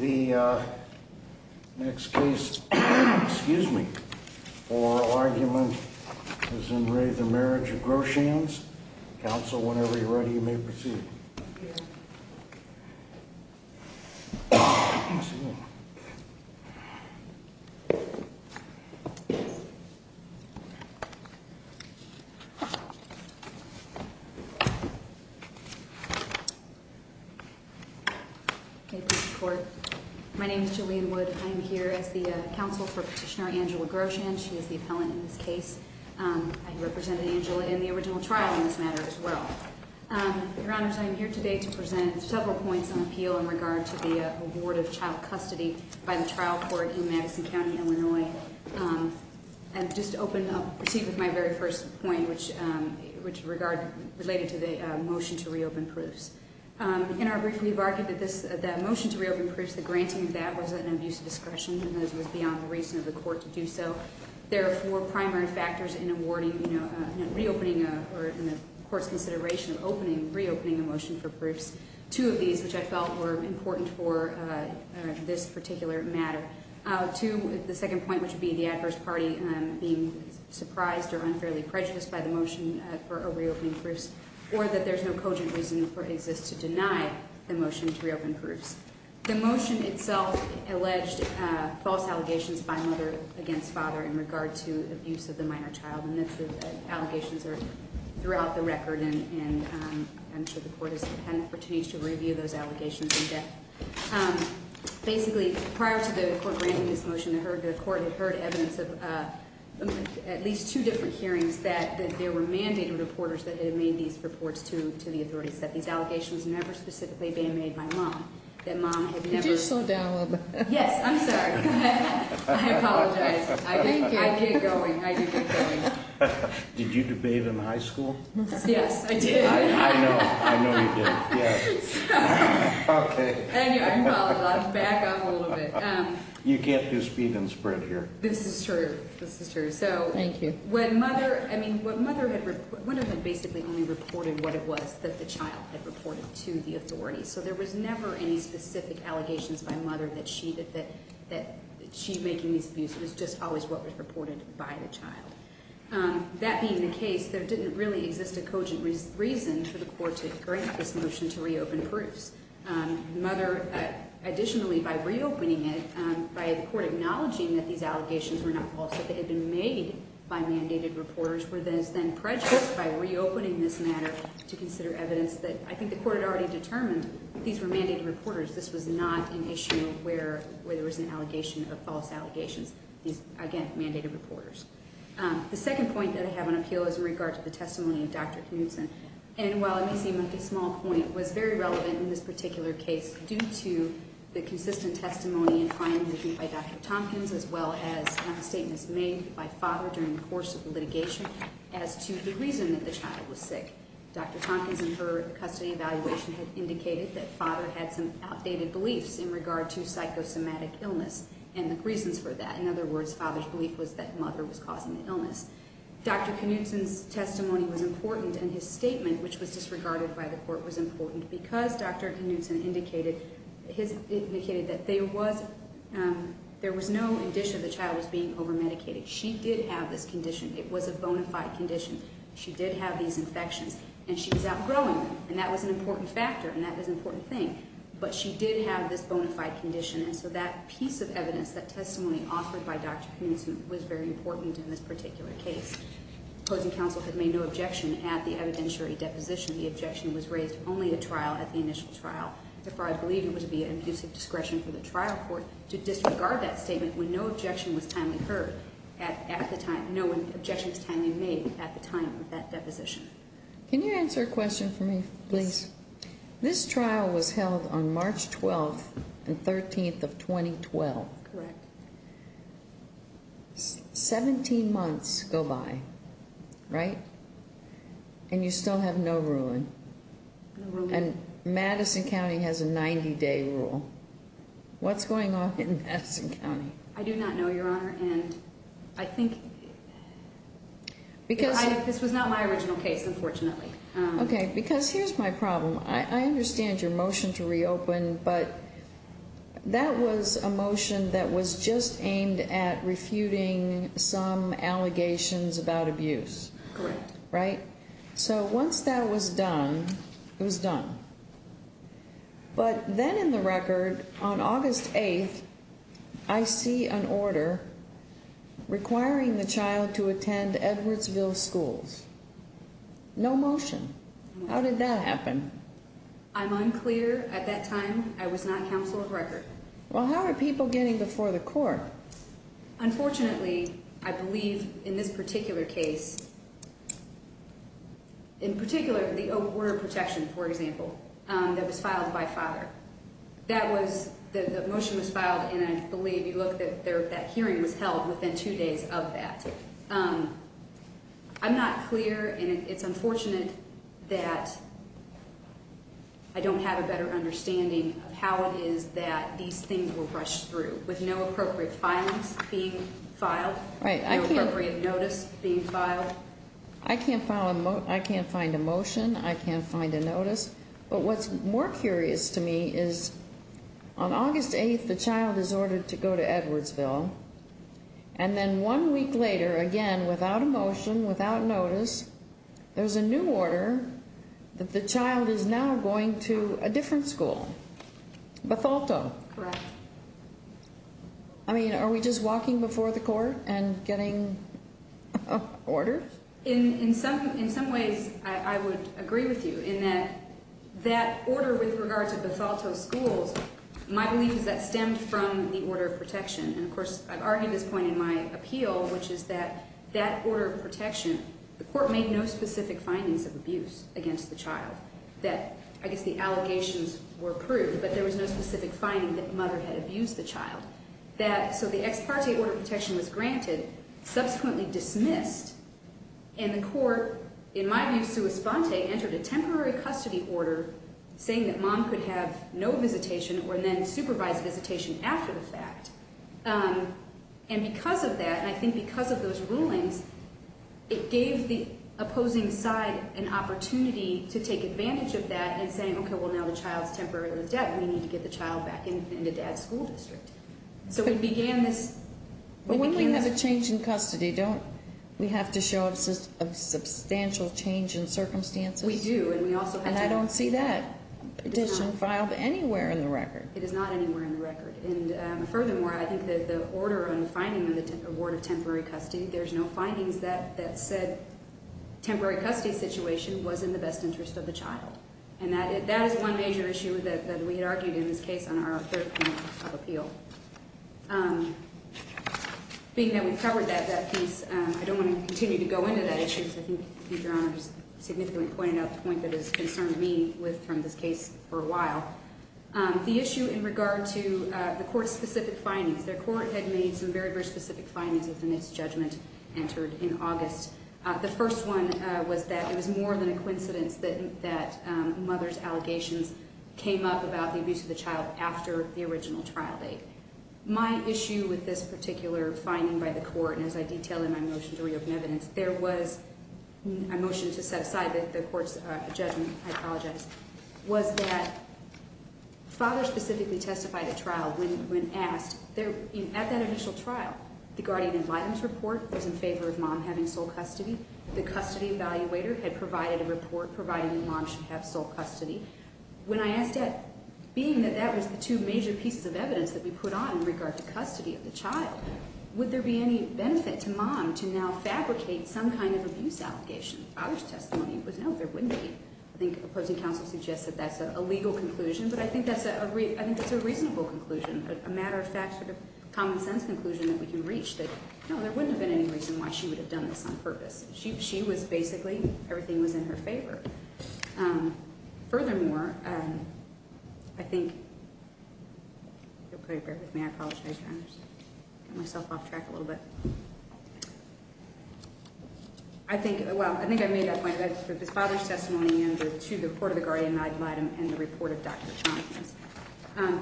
The next case, excuse me, for argument is in Re the Marriage of Groshans. Counsel, whenever you're ready, you may proceed. My name is Julian Wood. I'm here as the counsel for Petitioner Angela Groshan. She is the I'm here today to present several points of appeal in regard to the award of child custody by the trial court in Madison County, Illinois. And just to open up, proceed with my very first point, which, which regard, related to the motion to reopen proofs. In our brief, we've argued that this, that motion to reopen proofs, the granting of that was an abuse of discretion and that it was beyond the reason of the court to do so. There are four primary factors in awarding, you know, reopening, or in the court's consideration of opening, reopening a motion for proofs. Two of these, which I felt were important for this particular matter. Two, the second point, which would be the adverse party being surprised or unfairly prejudiced by the motion for reopening proofs, or that there's no cogent reason for, exists to deny the motion to reopen proofs. The motion itself alleged false allegations by mother against father in regard to abuse of the minor child. And the allegations are throughout the record, and I'm sure the court has had an opportunity to review those allegations in depth. Basically, prior to the court granting this motion, the court had heard evidence of at least two different hearings that there were mandated reporters that had made these reports to the authorities, that these allegations never specifically been made by mom, that Did you slow down a little bit? Yes, I'm sorry. I apologize. I did get going. I did get going. Did you do bathe in high school? Yes, I did. I know. I know you did. Yeah. Okay. Anyway, I apologize. Back up a little bit. You can't do speed and spread here. This is true. This is true. So, thank you. When mother, I mean, what mother had, one of them basically only reported what it was that the child had reported to the authorities. So there was never any specific allegations by mother that she making these views was just always what was reported by the child. That being the case, there didn't really exist a cogent reason for the court to grant this motion to reopen proofs. Mother, additionally, by reopening it, by the court acknowledging that these allegations were not false, that they had been made by mandated reporters, were then prejudiced by reopening this matter to consider evidence that, I think mandated reporters, this was not an issue where there was an allegation of false allegations. Again, mandated reporters. The second point that I have on appeal is in regard to the testimony of Dr. Knutson. And while it may seem like a small point, it was very relevant in this particular case due to the consistent testimony and findings made by Dr. Tompkins as well as statements made by father during the course of the litigation as to the reason that the child was sick. Dr. Tompkins in her custody evaluation had indicated that father had some outdated beliefs in regard to psychosomatic illness and the reasons for that. In other words, father's belief was that mother was causing the illness. Dr. Knutson's testimony was important and his statement, which was disregarded by the court, was important because Dr. Knutson indicated that there was no indicia the child was being overmedicated. She did have this condition. It was a bona fide condition. She did have these infections and she was outgrowing them and that was an important factor and that was an important thing. But she did have this bona fide condition and so that piece of evidence, that testimony offered by Dr. Knutson, was very important in this particular case. Opposing counsel had made no objection at the evidentiary deposition. The objection was raised only at trial, at the initial trial. Therefore, I believe it would be an abuse of discretion for the trial court to disregard that statement when no objection was timely made at the time of that deposition. Can you answer a question for me, please? Yes. This trial was held on March 12th and 13th of 2012. Correct. Seventeen months go by, right? And you still have no day-to-day rule. What's going on in Madison County? I do not know, Your Honor, and I think this was not my original case, unfortunately. Okay, because here's my problem. I understand your motion to reopen, but that was a motion that was just aimed at refuting some allegations about abuse. Correct. Right? So once that was done, it was done. But then in the record, on August 8th, I see an order requiring the child to attend Edwardsville Schools. No motion. How did that happen? I'm unclear. At that time, I was not counsel of record. Well, how are people getting before the court? Unfortunately, I believe in this particular case, in particular, the order of protection, for example, that was filed by father. That was, the motion was filed, and I believe you looked at that hearing was held within two days of that. I'm not clear, and it's unfortunate that I don't have a better understanding of how it was pushed through, with no appropriate filings being filed, no appropriate notice being filed. I can't find a motion. I can't find a notice. But what's more curious to me is, on August 8th, the child is ordered to go to Edwardsville, and then one week later, again, without a motion, without notice, there's a new order that the child is now going to a different school, Bethalto. Correct. I mean, are we just walking before the court and getting an order? In some ways, I would agree with you, in that that order with regard to Bethalto Schools, my belief is that stemmed from the order of protection. And of course, I've argued this point in my appeal, which is that that order of protection, the court made no specific findings of abuse against the child, that I guess the allegations were proved, but there was no specific finding that the mother had abused the child. So the ex parte order of protection was granted, subsequently dismissed, and the court, in my view, sua sponte, entered a temporary custody order saying that mom could have no visitation or then supervised visitation after the fact. And because of that, and I think because of those rulings, it gave the opposing side an opportunity to take advantage of that in saying, okay, well, now the child's temporarily in debt, we need to get the child back into dad's school district. So we began this... But when we have a change in custody, don't we have to show a substantial change in circumstances? We do, and we also have to... And I don't see that petition filed anywhere in the record. It is not anywhere in the record. And there were no findings that said temporary custody situation was in the best interest of the child. And that is one major issue that we had argued in this case on our third point of appeal. Being that we've covered that piece, I don't want to continue to go into that issue, because I think Your Honor has significantly pointed out the point that has concerned me from this case for a while. The issue in regard to the court's specific findings within this judgment entered in August. The first one was that it was more than a coincidence that mother's allegations came up about the abuse of the child after the original trial date. My issue with this particular finding by the court, and as I detail in my motion to reopen evidence, there was a motion to set aside the court's judgment, I apologize, was that father specifically testified at trial when asked... At that initial trial. The Guardian and Vitam's report was in favor of mom having sole custody. The custody evaluator had provided a report providing that mom should have sole custody. When I asked that, being that that was the two major pieces of evidence that we put on in regard to custody of the child, would there be any benefit to mom to now fabricate some kind of abuse allegation? Father's testimony was no, there wouldn't be. I think opposing counsel suggests that that's a legal conclusion, but I think that's a reasonable conclusion, a matter of fact, sort of common sense conclusion that we can reach that, no, there wouldn't have been any reason why she would have done this on purpose. She was basically, everything was in her favor. Furthermore, I think... Bear with me, I apologize. I got myself off track a little bit. I think, well, I think I made that point, that father's testimony and to the report of the Guardian and Vitam and the report of Dr. Tompkins.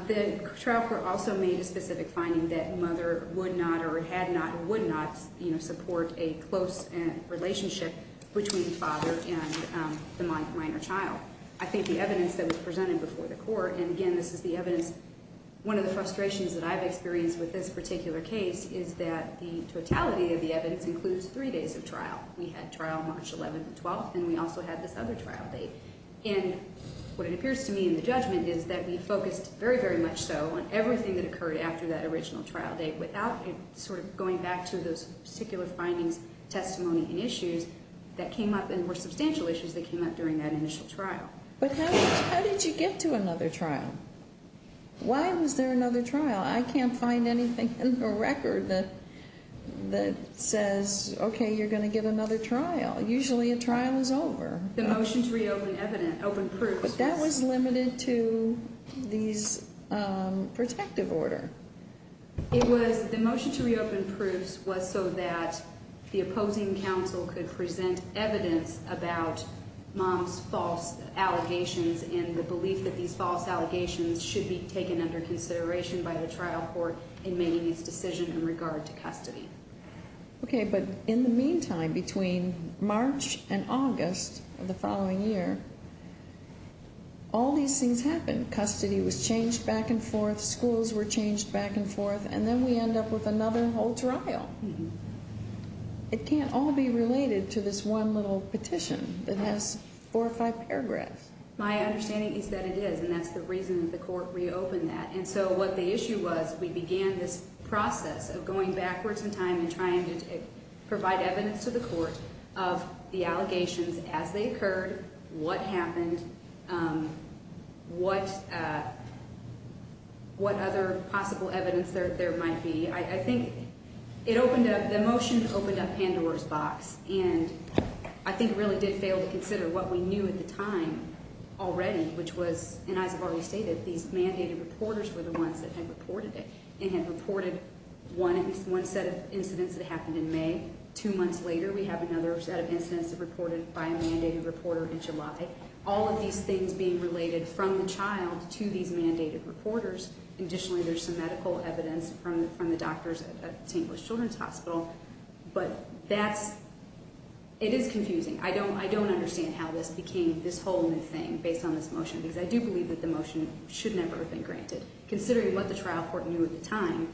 The trial court also made a specific finding that mother would not or had not or would not support a close relationship between father and the minor child. I think the evidence that was presented before the court, and again, this is the evidence... One of the frustrations that I've experienced with this particular case is that the totality of the evidence includes three days of trial. We had trial March 11th and 12th and we also had this other trial date. And what it appears to me in the judgment is that we focused very, very much so on everything that occurred after that original trial date without sort of going back to those particular findings, testimony and issues that came up and were substantial issues that came up during that initial trial. But how did you get to another trial? Why was there another trial? I can't find anything in the record that says, okay, you're going to get another trial. Usually a trial is over. The motion to reopen evidence, open proofs... But that was limited to these protective order. It was, the motion to reopen proofs was so that the opposing counsel could present evidence about mom's false allegations and the belief that these false allegations should be taken under consideration by the trial court in making its decision in regard to custody. Okay, but in the meantime, between March and August of the following year, all these things happened. Custody was changed back and forth, schools were changed back and forth, and then we end up with another whole trial. It can't all be related to this one little petition that has four or five paragraphs. My understanding is that it is, and that's the reason that the court reopened that. And so what the issue was, we began this process of going backwards in time and trying to provide evidence to the court of the allegations as they occurred, what happened, what other possible evidence there might be. I think it opened up, the motion opened up Pandora's box, and I think it really did fail to consider what we knew at the time already, which was, and as I've already stated, these mandated reporters were the ones that had reported it, and had reported one set of incidents that happened in May. Two months later, we have another set of incidents reported by a mandated reporter in July. All of these things being related from the child to these mandated reporters. Additionally, there's some medical evidence from the doctors at St. Louis Children's Hospital, but that's, it is confusing. I don't understand how this became this whole new thing based on this motion, because I do believe that the motion should never have been granted. Considering what the trial court knew at the time,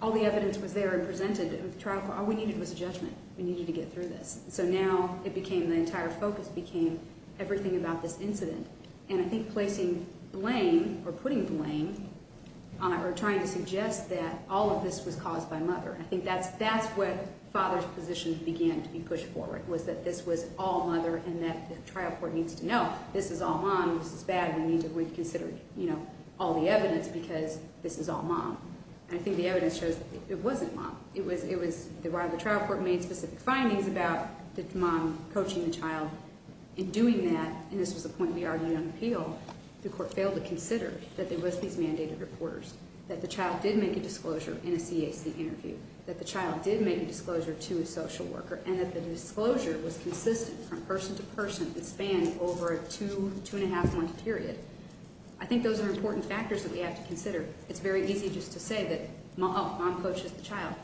all the evidence was there and presented to the trial court, all we needed was judgment. We needed to get through this. So now it became, the entire focus became everything about this was caused by mother. I think that's, that's where father's position began to be pushed forward, was that this was all mother, and that the trial court needs to know, this is all mom, this is bad, we need to reconsider, you know, all the evidence, because this is all mom. And I think the evidence shows that it wasn't mom. It was, it was, while the trial court made specific findings about the mom coaching the child in doing that, and this was the point we argued on appeal, the court failed to consider that there was these mandated reporters, that the child did make a disclosure in a CAC interview, that the child did make a disclosure to a social worker, and that the disclosure was consistent from person to person and spanned over a two, two and a half month period. I think those are important factors that we have to consider. It's very easy just to say that, oh, mom coaches the child.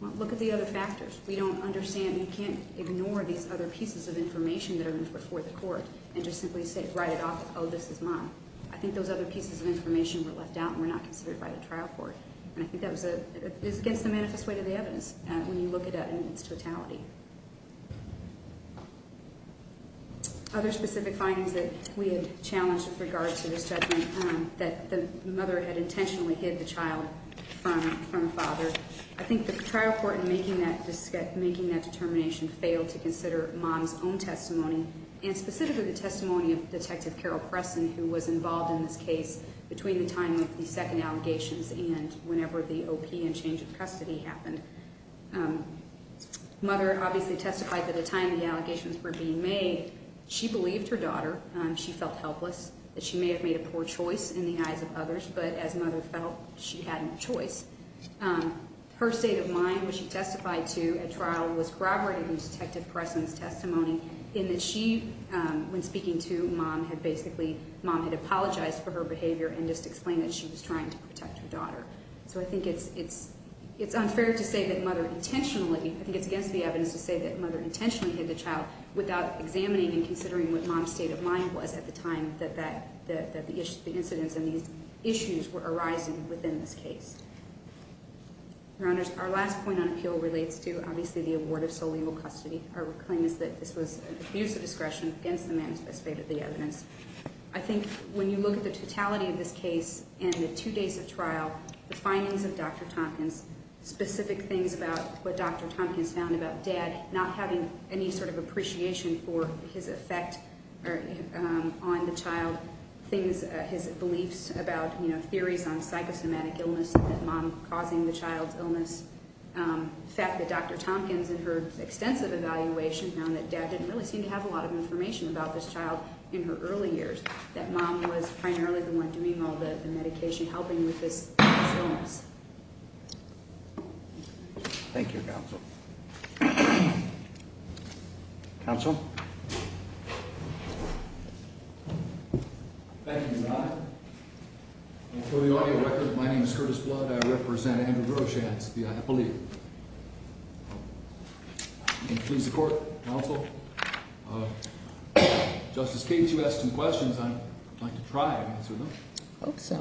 Look at the other factors. We don't understand, we can't ignore these other pieces of information that are before the court and just simply say, write it off as, oh, this is mom. I think those other pieces of information were left out and were not considered by the trial court. And I think that was a, it's against the manifest weight of the evidence when you look at it in its totality. Other specific findings that we had challenged with regard to this judgment, that the mother had intentionally hid the child from, from a father. I think the trial court in making that, making that determination failed to consider mom's own testimony, and specifically the testimony of Detective Carol Preston, who was involved in this case between the time of the second allegations and whenever the OP and change of custody happened. Mother obviously testified that at the time the allegations were being made, she believed her daughter. She felt helpless, that she may have made a poor choice in the eyes of others, but as mother felt, she had no choice. Her state of mind, which she testified to at trial, was corroborated in Detective Preston's testimony in that she, when speaking to mom, had basically, mom had apologized for her behavior and just explained that she was trying to protect her daughter. So I think it's, it's, it's unfair to say that mother intentionally, I think it's against the evidence to say that mother intentionally hid the child without examining and considering what mom's state of mind was at the time that that, that the issue, the incidents and these issues were arising within this case. Your Honor, my appeal relates to obviously the award of sole legal custody. Our claim is that this was an abuse of discretion against the man who specified the evidence. I think when you look at the totality of this case and the two days of trial, the findings of Dr. Tompkins, specific things about what Dr. Tompkins found about dad not having any sort of appreciation for his effect on the child, things, his beliefs about, you know, theories on psychosomatic illness, that mom causing the child's illness, the fact that Dr. Tompkins in her extensive evaluation found that dad didn't really seem to have a lot of information about this child in her early years, that mom was primarily the one doing all the medication, helping with this, this illness. Thank you, counsel. Counsel? Thank you, Your Honor. And for the audio record, my name is Curtis Blood. I represent Andrew Groschansky, I believe. May it please the court, counsel. Justice Cates, you asked some questions. I'd like to try and answer them. I hope so.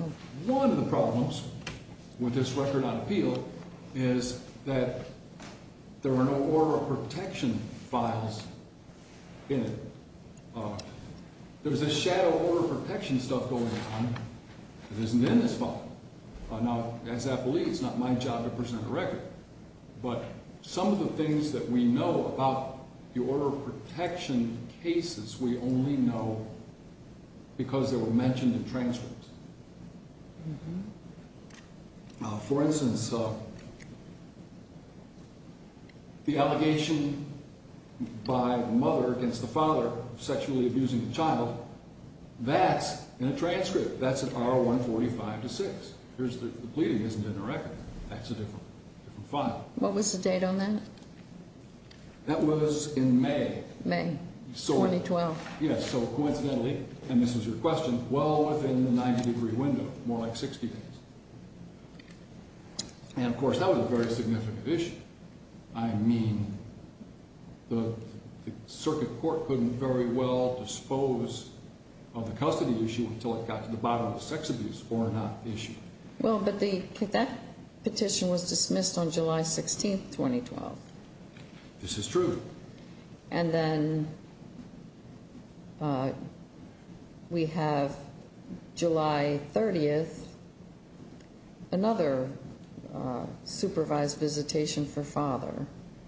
One of the problems with this record on appeal is that there were no oral protection files in it. There was a shadow of oral protection stuff going on that isn't in this file. Now, as I believe, it's not my job to present a record, but some of the things that we know about the oral protection cases, we only know because they were mentioned in transcripts. For instance, the allegation by the mother against the father of sexually abusing the child, that's in a transcript. That's an R145-6. The pleading isn't in the record. That's a different file. What was the date on that? That was in May. May, 2012. Yes, so coincidentally, and this is your question, well within the 90 degree window, more like 60 degrees. And of course, that was a very significant issue. I mean, the circuit court couldn't very well dispose of the custody issue until it got to the bottom of the sex abuse or not issue. Well, but that petition was dismissed on July 30th, another supervised visitation for father.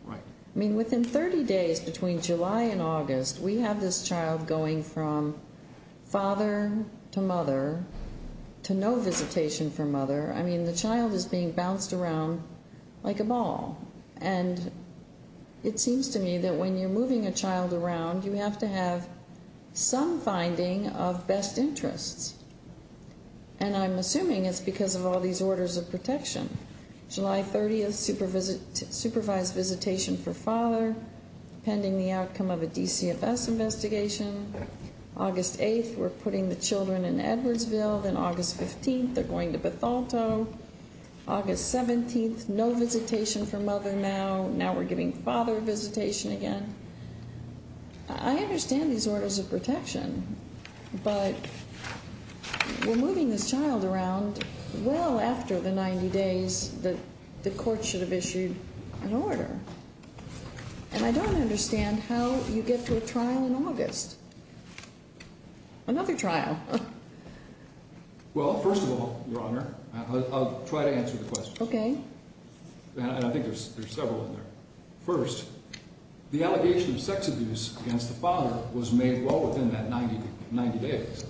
I mean, within 30 days between July and August, we have this child going from father to mother to no visitation from mother. I mean, the child is being bounced around like a ball. And it seems to me that when you're moving a child around, you have to have some finding of best interests. And I'm assuming it's because of all these orders of protection. July 30th, supervised visitation for father, pending the outcome of a DCFS investigation. August 8th, we're putting the children in Edwardsville. Then August 15th, they're going to Bethalto. August 17th, no visitation for mother now. Now we're giving father visitation again. I understand these orders of protection, but we're moving this child around well after the 90 days that the court should have issued an order. And I don't understand how you get to a trial in August. Another trial. Well, first of all, Your Honor, I'll try to answer the question. Okay. And I think there's several in there. First, the allegation of sex abuse against the father was made well within that 90 days.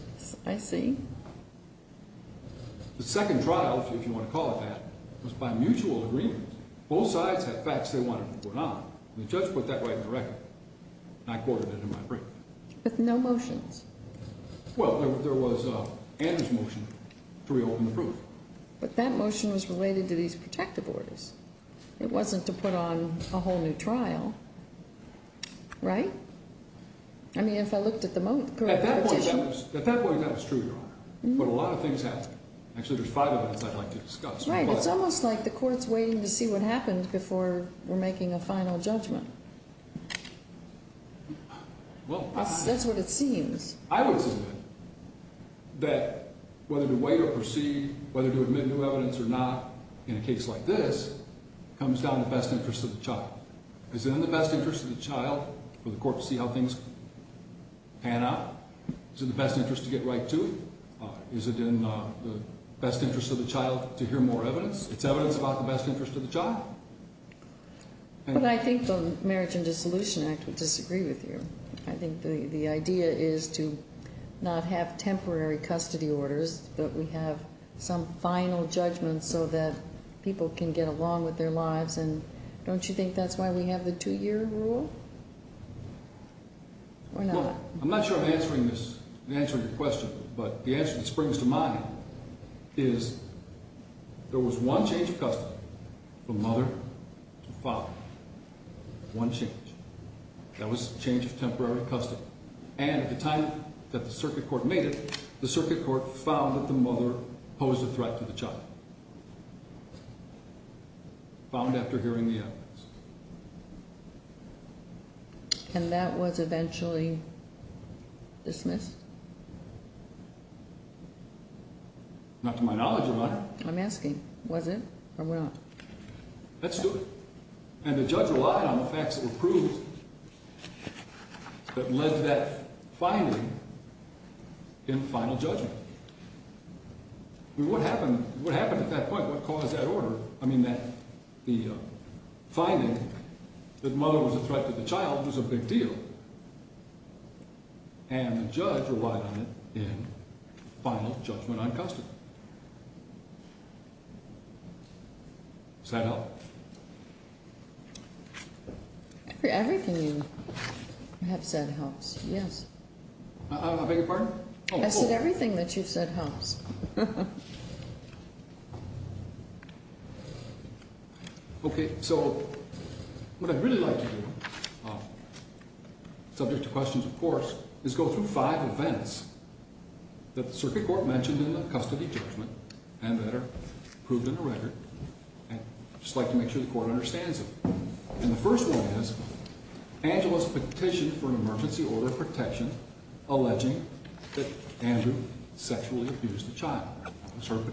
I see. The second trial, if you want to call it that, was by mutual agreement. Both sides had facts they wanted to put on. And the judge put that right in the record. And I quoted it in my brief. With no motions? Well, there was Andrew's motion to reopen the proof. But that motion was related to these protective orders. It wasn't to put on a whole new trial. Right? I mean, if I looked at the motion. At that point, that was true, Your Honor. But a lot of things happened. Actually, there's five events I'd like to discuss. Right. It's almost like the court's waiting to see what happened before we're making a final judgment. That's what it seems. I would assume that whether to wait or proceed, whether to admit new evidence or not, in a case like this, comes down to best interest of the child. Is it in the best interest of the child for the court to see how things pan out? Is it in the best interest to get right to it? Is it in the best interest of the child to hear more evidence? It's evidence about the best interest of the child? But I think the Marriage and Dissolution Act would disagree with you. I think the idea is to not have temporary custody orders, but we have some final judgment so that people can get along with their lives. And don't you think that's why we have the two-year rule? Or not? Well, I'm not sure I'm answering this. I'm answering your question. But the There was one change of custody from mother to father. One change. That was change of temporary custody. And at the time that the circuit court made it, the circuit court found that the mother posed a threat to the child. Found after hearing the evidence. And that was eventually dismissed? Not to my knowledge, Your Honor. I'm asking, was it or not? That stood. And the judge relied on the facts that were proved that led to that finding in final judgment. I mean, what happened at that point? What caused that order? I mean, the finding that the mother was a threat to the child was a big deal. And the judge relied on it in final judgment on custody. Does that help? Everything you have said helps, yes. I beg What I'd really like to do, subject to questions, of course, is go through five events that the circuit court mentioned in the custody judgment and that are proved in the record. And I'd just like to make sure the court understands them. And the first one is Angela's petition for an emergency order of protection alleging that Andrew sexually abused the child. That's room.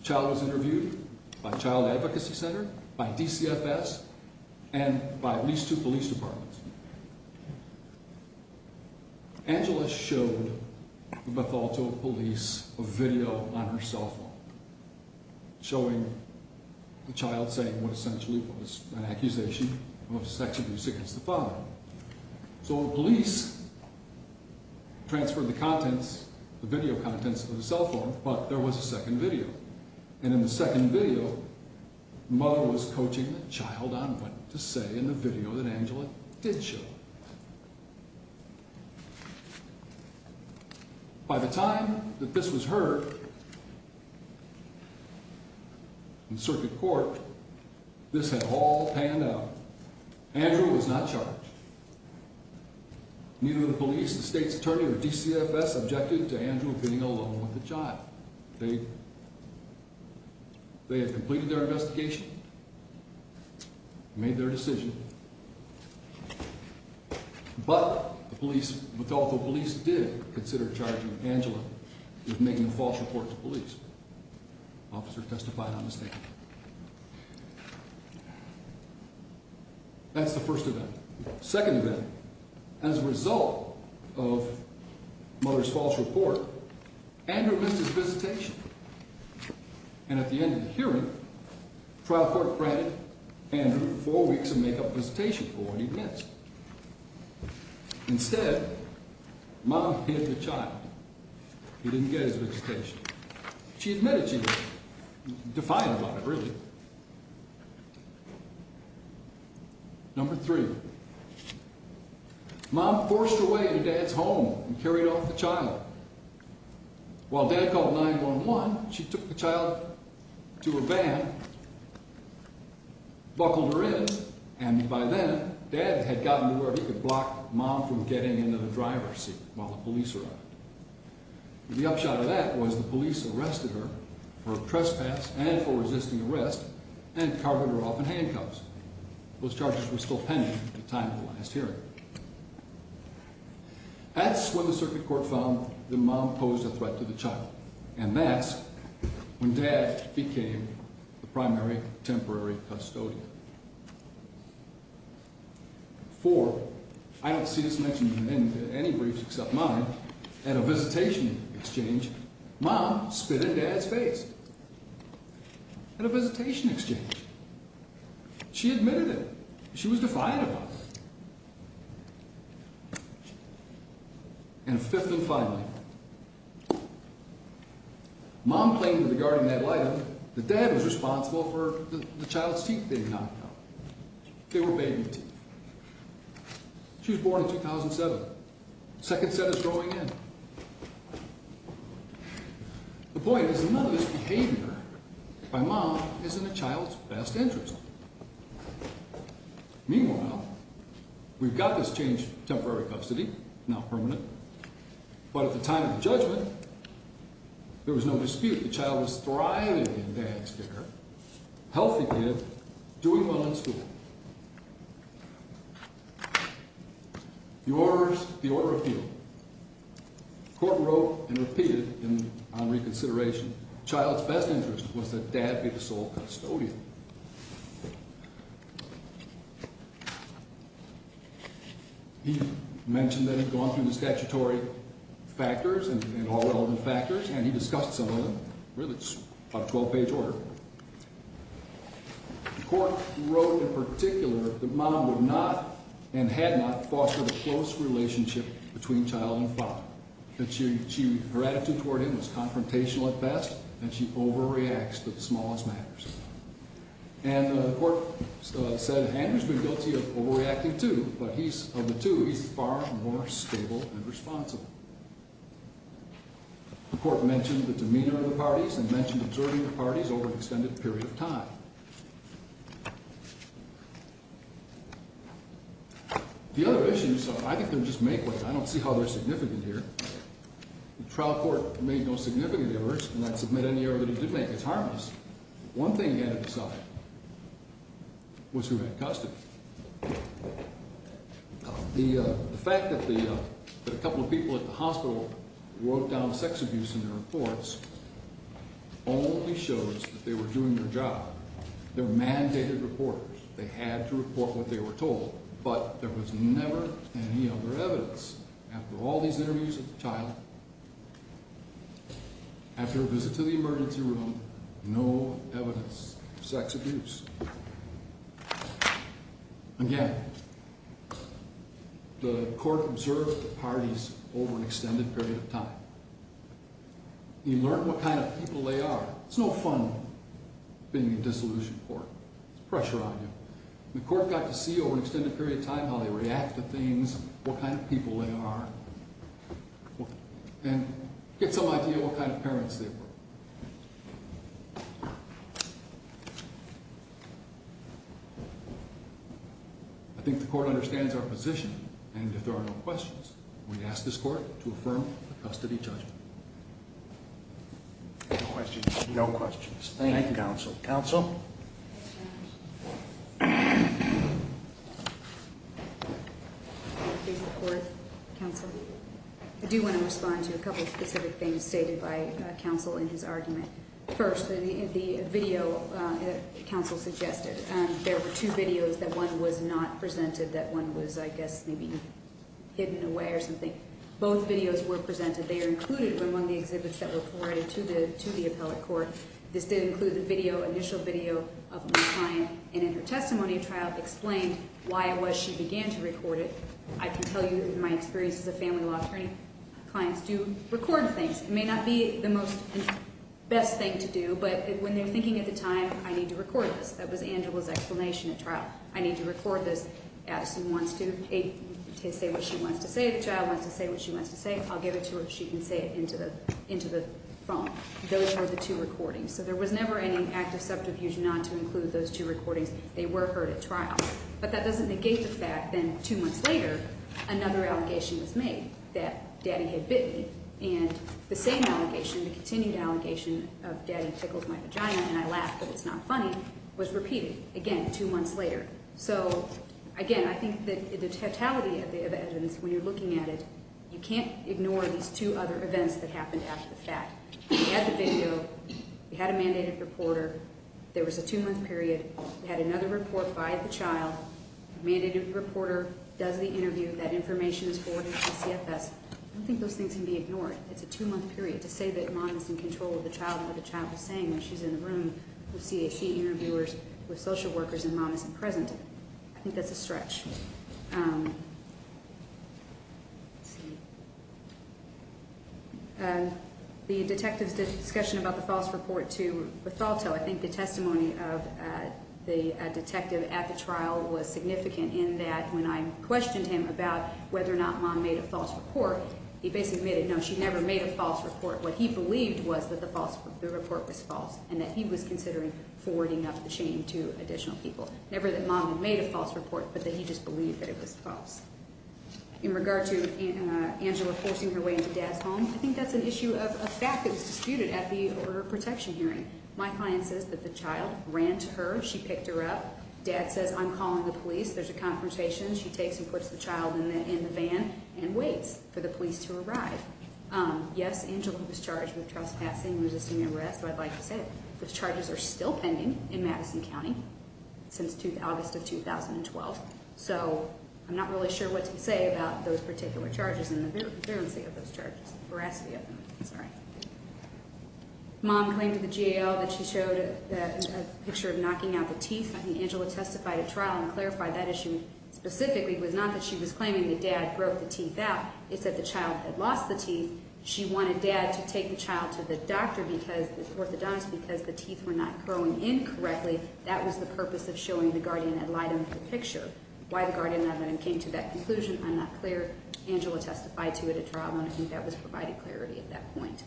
The child was interviewed by Child Advocacy Center, by DCFS, and by at least two police departments. Angela showed the Bethalto police a video on her cell phone showing the child saying what essentially was an accusation of sexual abuse against the father. So the transferred the contents, the video contents of the cell phone, but there was a second video. And in the second video, the mother was coaching the child on what to say in the video that Angela did show. By the time that this was heard in circuit court, this had all panned out. Andrew was not charged. Neither the police, the state's attorney, or DCFS objected to Andrew being alone with the child. They had completed their investigation, made their decision, but the police, Bethalto police did consider charging Angela with making a That's the first event. Second event, as a result of mother's false report, Andrew missed his visitation. And at the end of the hearing, trial court granted Andrew four weeks of make-up visitation for what he missed. Instead, mom hid the child. He didn't get his visitation. She admitted she was defiant about it, really. Number three, mom forced her way into dad's home and carried off the child. While dad called 911, she took the child to a van, buckled her in, and by then, dad had gotten to where he could block mom from getting into the driver's seat while the police arrived. The upshot of that was the police arrested her for trespass and for resisting arrest and carved her off in handcuffs. Those charges were still pending at the time of the last hearing. That's when the circuit court found that mom posed a threat to the child, and that's when dad became the primary temporary custodian. Four, I don't want to mix up mine, at a visitation exchange, mom spit in dad's face at a visitation exchange. She admitted it. She was defiant about it. And fifth and finally, mom claimed to the guardian ad litem that dad was responsible for the child's teeth being knocked out. They said it's growing in. The point is none of this behavior by mom is in the child's best interest. Meanwhile, we've got this changed temporary custody, now permanent, but at the time of the judgment, there was no dispute. The child was thriving in dad's care, healthy and doing well in school. The order of appeal, the court wrote and repeated on reconsideration, the child's best interest was that dad be the sole custodian. He mentioned that he'd gone through the statutory factors and all relevant factors, and he discussed some of 12-page order. The court wrote in particular that mom would not and had not fostered a close relationship between child and father. Her attitude toward him was confrontational at best, and she overreacts to the smallest matters. And the court said Andrew's been guilty of overreacting too, but of the two, he's far more stable and responsible. The court said Andrew was the meaner of the parties and mentioned absorbing the parties over an extended period of time. The other issues, I think they're just make way. I don't see how they're significant here. The trial court made no significant errors, and I'd submit any error that it did make. It's harmless. One thing it had to decide was who had custody. The fact that a couple of people at the hospital wrote down sex abuse in their reports only shows that they were doing their job. They're mandated reporters. They had to report what they were told, but there was never any other evidence. After all these interviews with Again, the court observed the parties over an extended period of time. You learn what kind of people they are. It's no fun being a dissolution court. There's pressure on you. The court got to see over an extended period of time how they react to things, what kind of people they are, and get some idea what kind of parents they were. I think the court understands our position, and if there are no questions, we ask this court to affirm custody judgment. No questions. Thank you, Counsel. Counsel? I do want to respond to a couple of specific things stated by Counsel in his argument. First, the video that Counsel suggested. There were two videos. One was not presented. One was, I guess, maybe hidden away or something. Both videos were presented. They are included among the exhibits that were forwarded to the appellate court. This did include the initial video of my client, and in her testimony, Trout explained why it was she began to record it. I can tell you in my experience as a family law attorney, clients do record things. It may not be the most best thing to do, but when they're thinking at the time, I need to record this, that was to say what she wants to say, I'll give it to her, she can say it into the phone. Those were the two recordings. So there was never any active subterfuge not to include those two recordings. They were heard at trial. But that doesn't negate the fact that two months later, another allegation was made that Daddy had bit me, and the same allegation, the continued allegation of Daddy tickles my vagina and I laugh, but it's not funny, was repeated again two months later. So again, I think that the totality of the evidence when you're looking at it, you can't ignore these two other events that happened after the fact. We had the video. We had a mandated reporter. There was a two-month period. We had another report by the child. The mandated reporter does the interview. That information is forwarded to the CFS. I don't think those things can be ignored. It's a two-month period to say that Mom is in control of the child and what the child is saying when she's in the room with CAC interviewers, with social workers, and Mom isn't present. I think that's a stretch. The detective's discussion about the false report to Bethalto, I think the testimony of the detective at the trial was significant in that when I questioned him about whether or not Mom made a false report, he basically admitted, no, she never made a false report. What he believed was that the report was false and that he was considering forwarding up the shame to additional people. Never that Mom had made a false report, but that he just believed that it was false. In regard to Angela forcing her way into Dad's home, I think that's an issue of a fact that was disputed at the order of protection hearing. My client says that the child ran to her. She picked her up. Dad says, I'm calling the police. There's a conversation. She takes and puts the child in the van and waits for the police to arrive. Yes, Angela was charged with trespassing, resisting arrest. I'd like to say those charges are still pending in Madison County since August of 2012. I'm not really sure what to say about those particular charges and the veracity of those charges. Mom claimed to the GAO that she showed a picture of knocking out the teeth. I think Angela testified at trial and clarified that issue specifically was not that she was claiming that Dad broke the teeth out. It's that the child had lost the teeth. She wanted Dad to take the child to the orthodontist because the teeth were not growing in correctly. That was the purpose of showing the guardian had lied under the picture. Why the guardian had not come to that conclusion, I'm not clear. Angela testified to it at trial, and I think that was provided clarity at that point.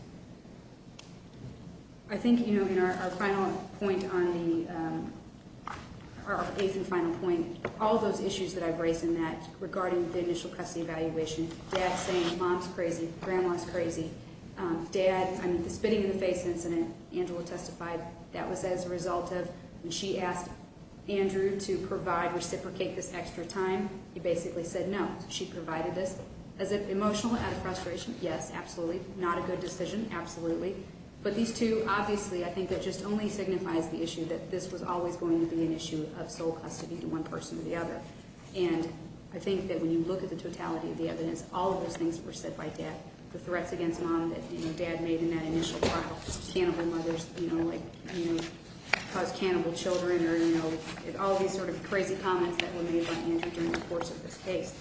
I think in our final point on the – our eighth and final point, all those issues that I've raised in that regarding the initial custody evaluation, Dad saying Mom's crazy, Grandma's crazy, Dad – I mean, the spitting in the face incident, Angela testified that was as a result of when she asked Andrew to provide – reciprocate this extra time, he basically said no. She provided this. As if emotional, out of frustration, yes, absolutely. Not a good decision, absolutely. But these two, obviously, I think that just only signifies the issue that this was always going to be an issue of sole custody to one person or the other. And I think that when you look at the totality of the evidence, all of those things were said by Dad. The threats against Mom that, you know, Dad made in that initial trial. Cannibal mothers, you know, like, you know, cause cannibal children or, you know, all these sort of crazy comments that were made by Andrew during the course of this case.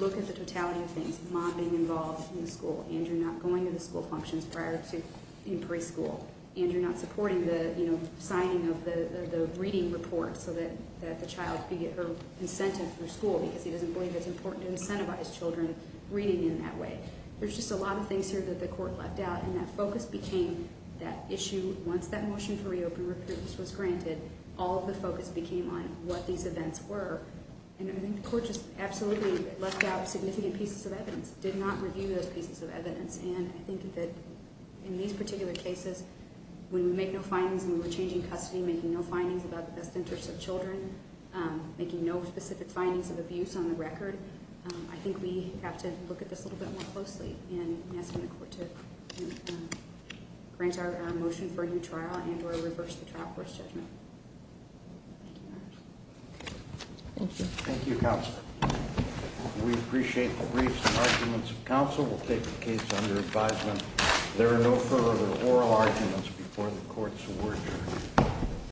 Look at the totality of things. Mom being involved in the school. Andrew not going to the school functions prior to in preschool. Andrew not supporting the, you know, signing of the reading report so that the child could get her incentive through school because he doesn't believe it's important to incentivize children reading in that way. There's just a lot of things here that the court left out and that focus became that issue once that motion for reopen recruitment was granted, all of the focus became on what these events were. And I think the court just absolutely left out significant pieces of evidence, did not review those pieces of evidence. And I think that in these particular cases, when we make no findings and we're changing custody, making no findings about the best interest of Children, making no specific findings of abuse on the record. I think we have to look at this a little bit more closely and asking the court to grant our motion for a new trial and or reverse the trial court's judgment. Thank you. Thank you, Counsel. We appreciate the brief arguments. Counsel will take the case under advisement. There are no further oral arguments before the courts.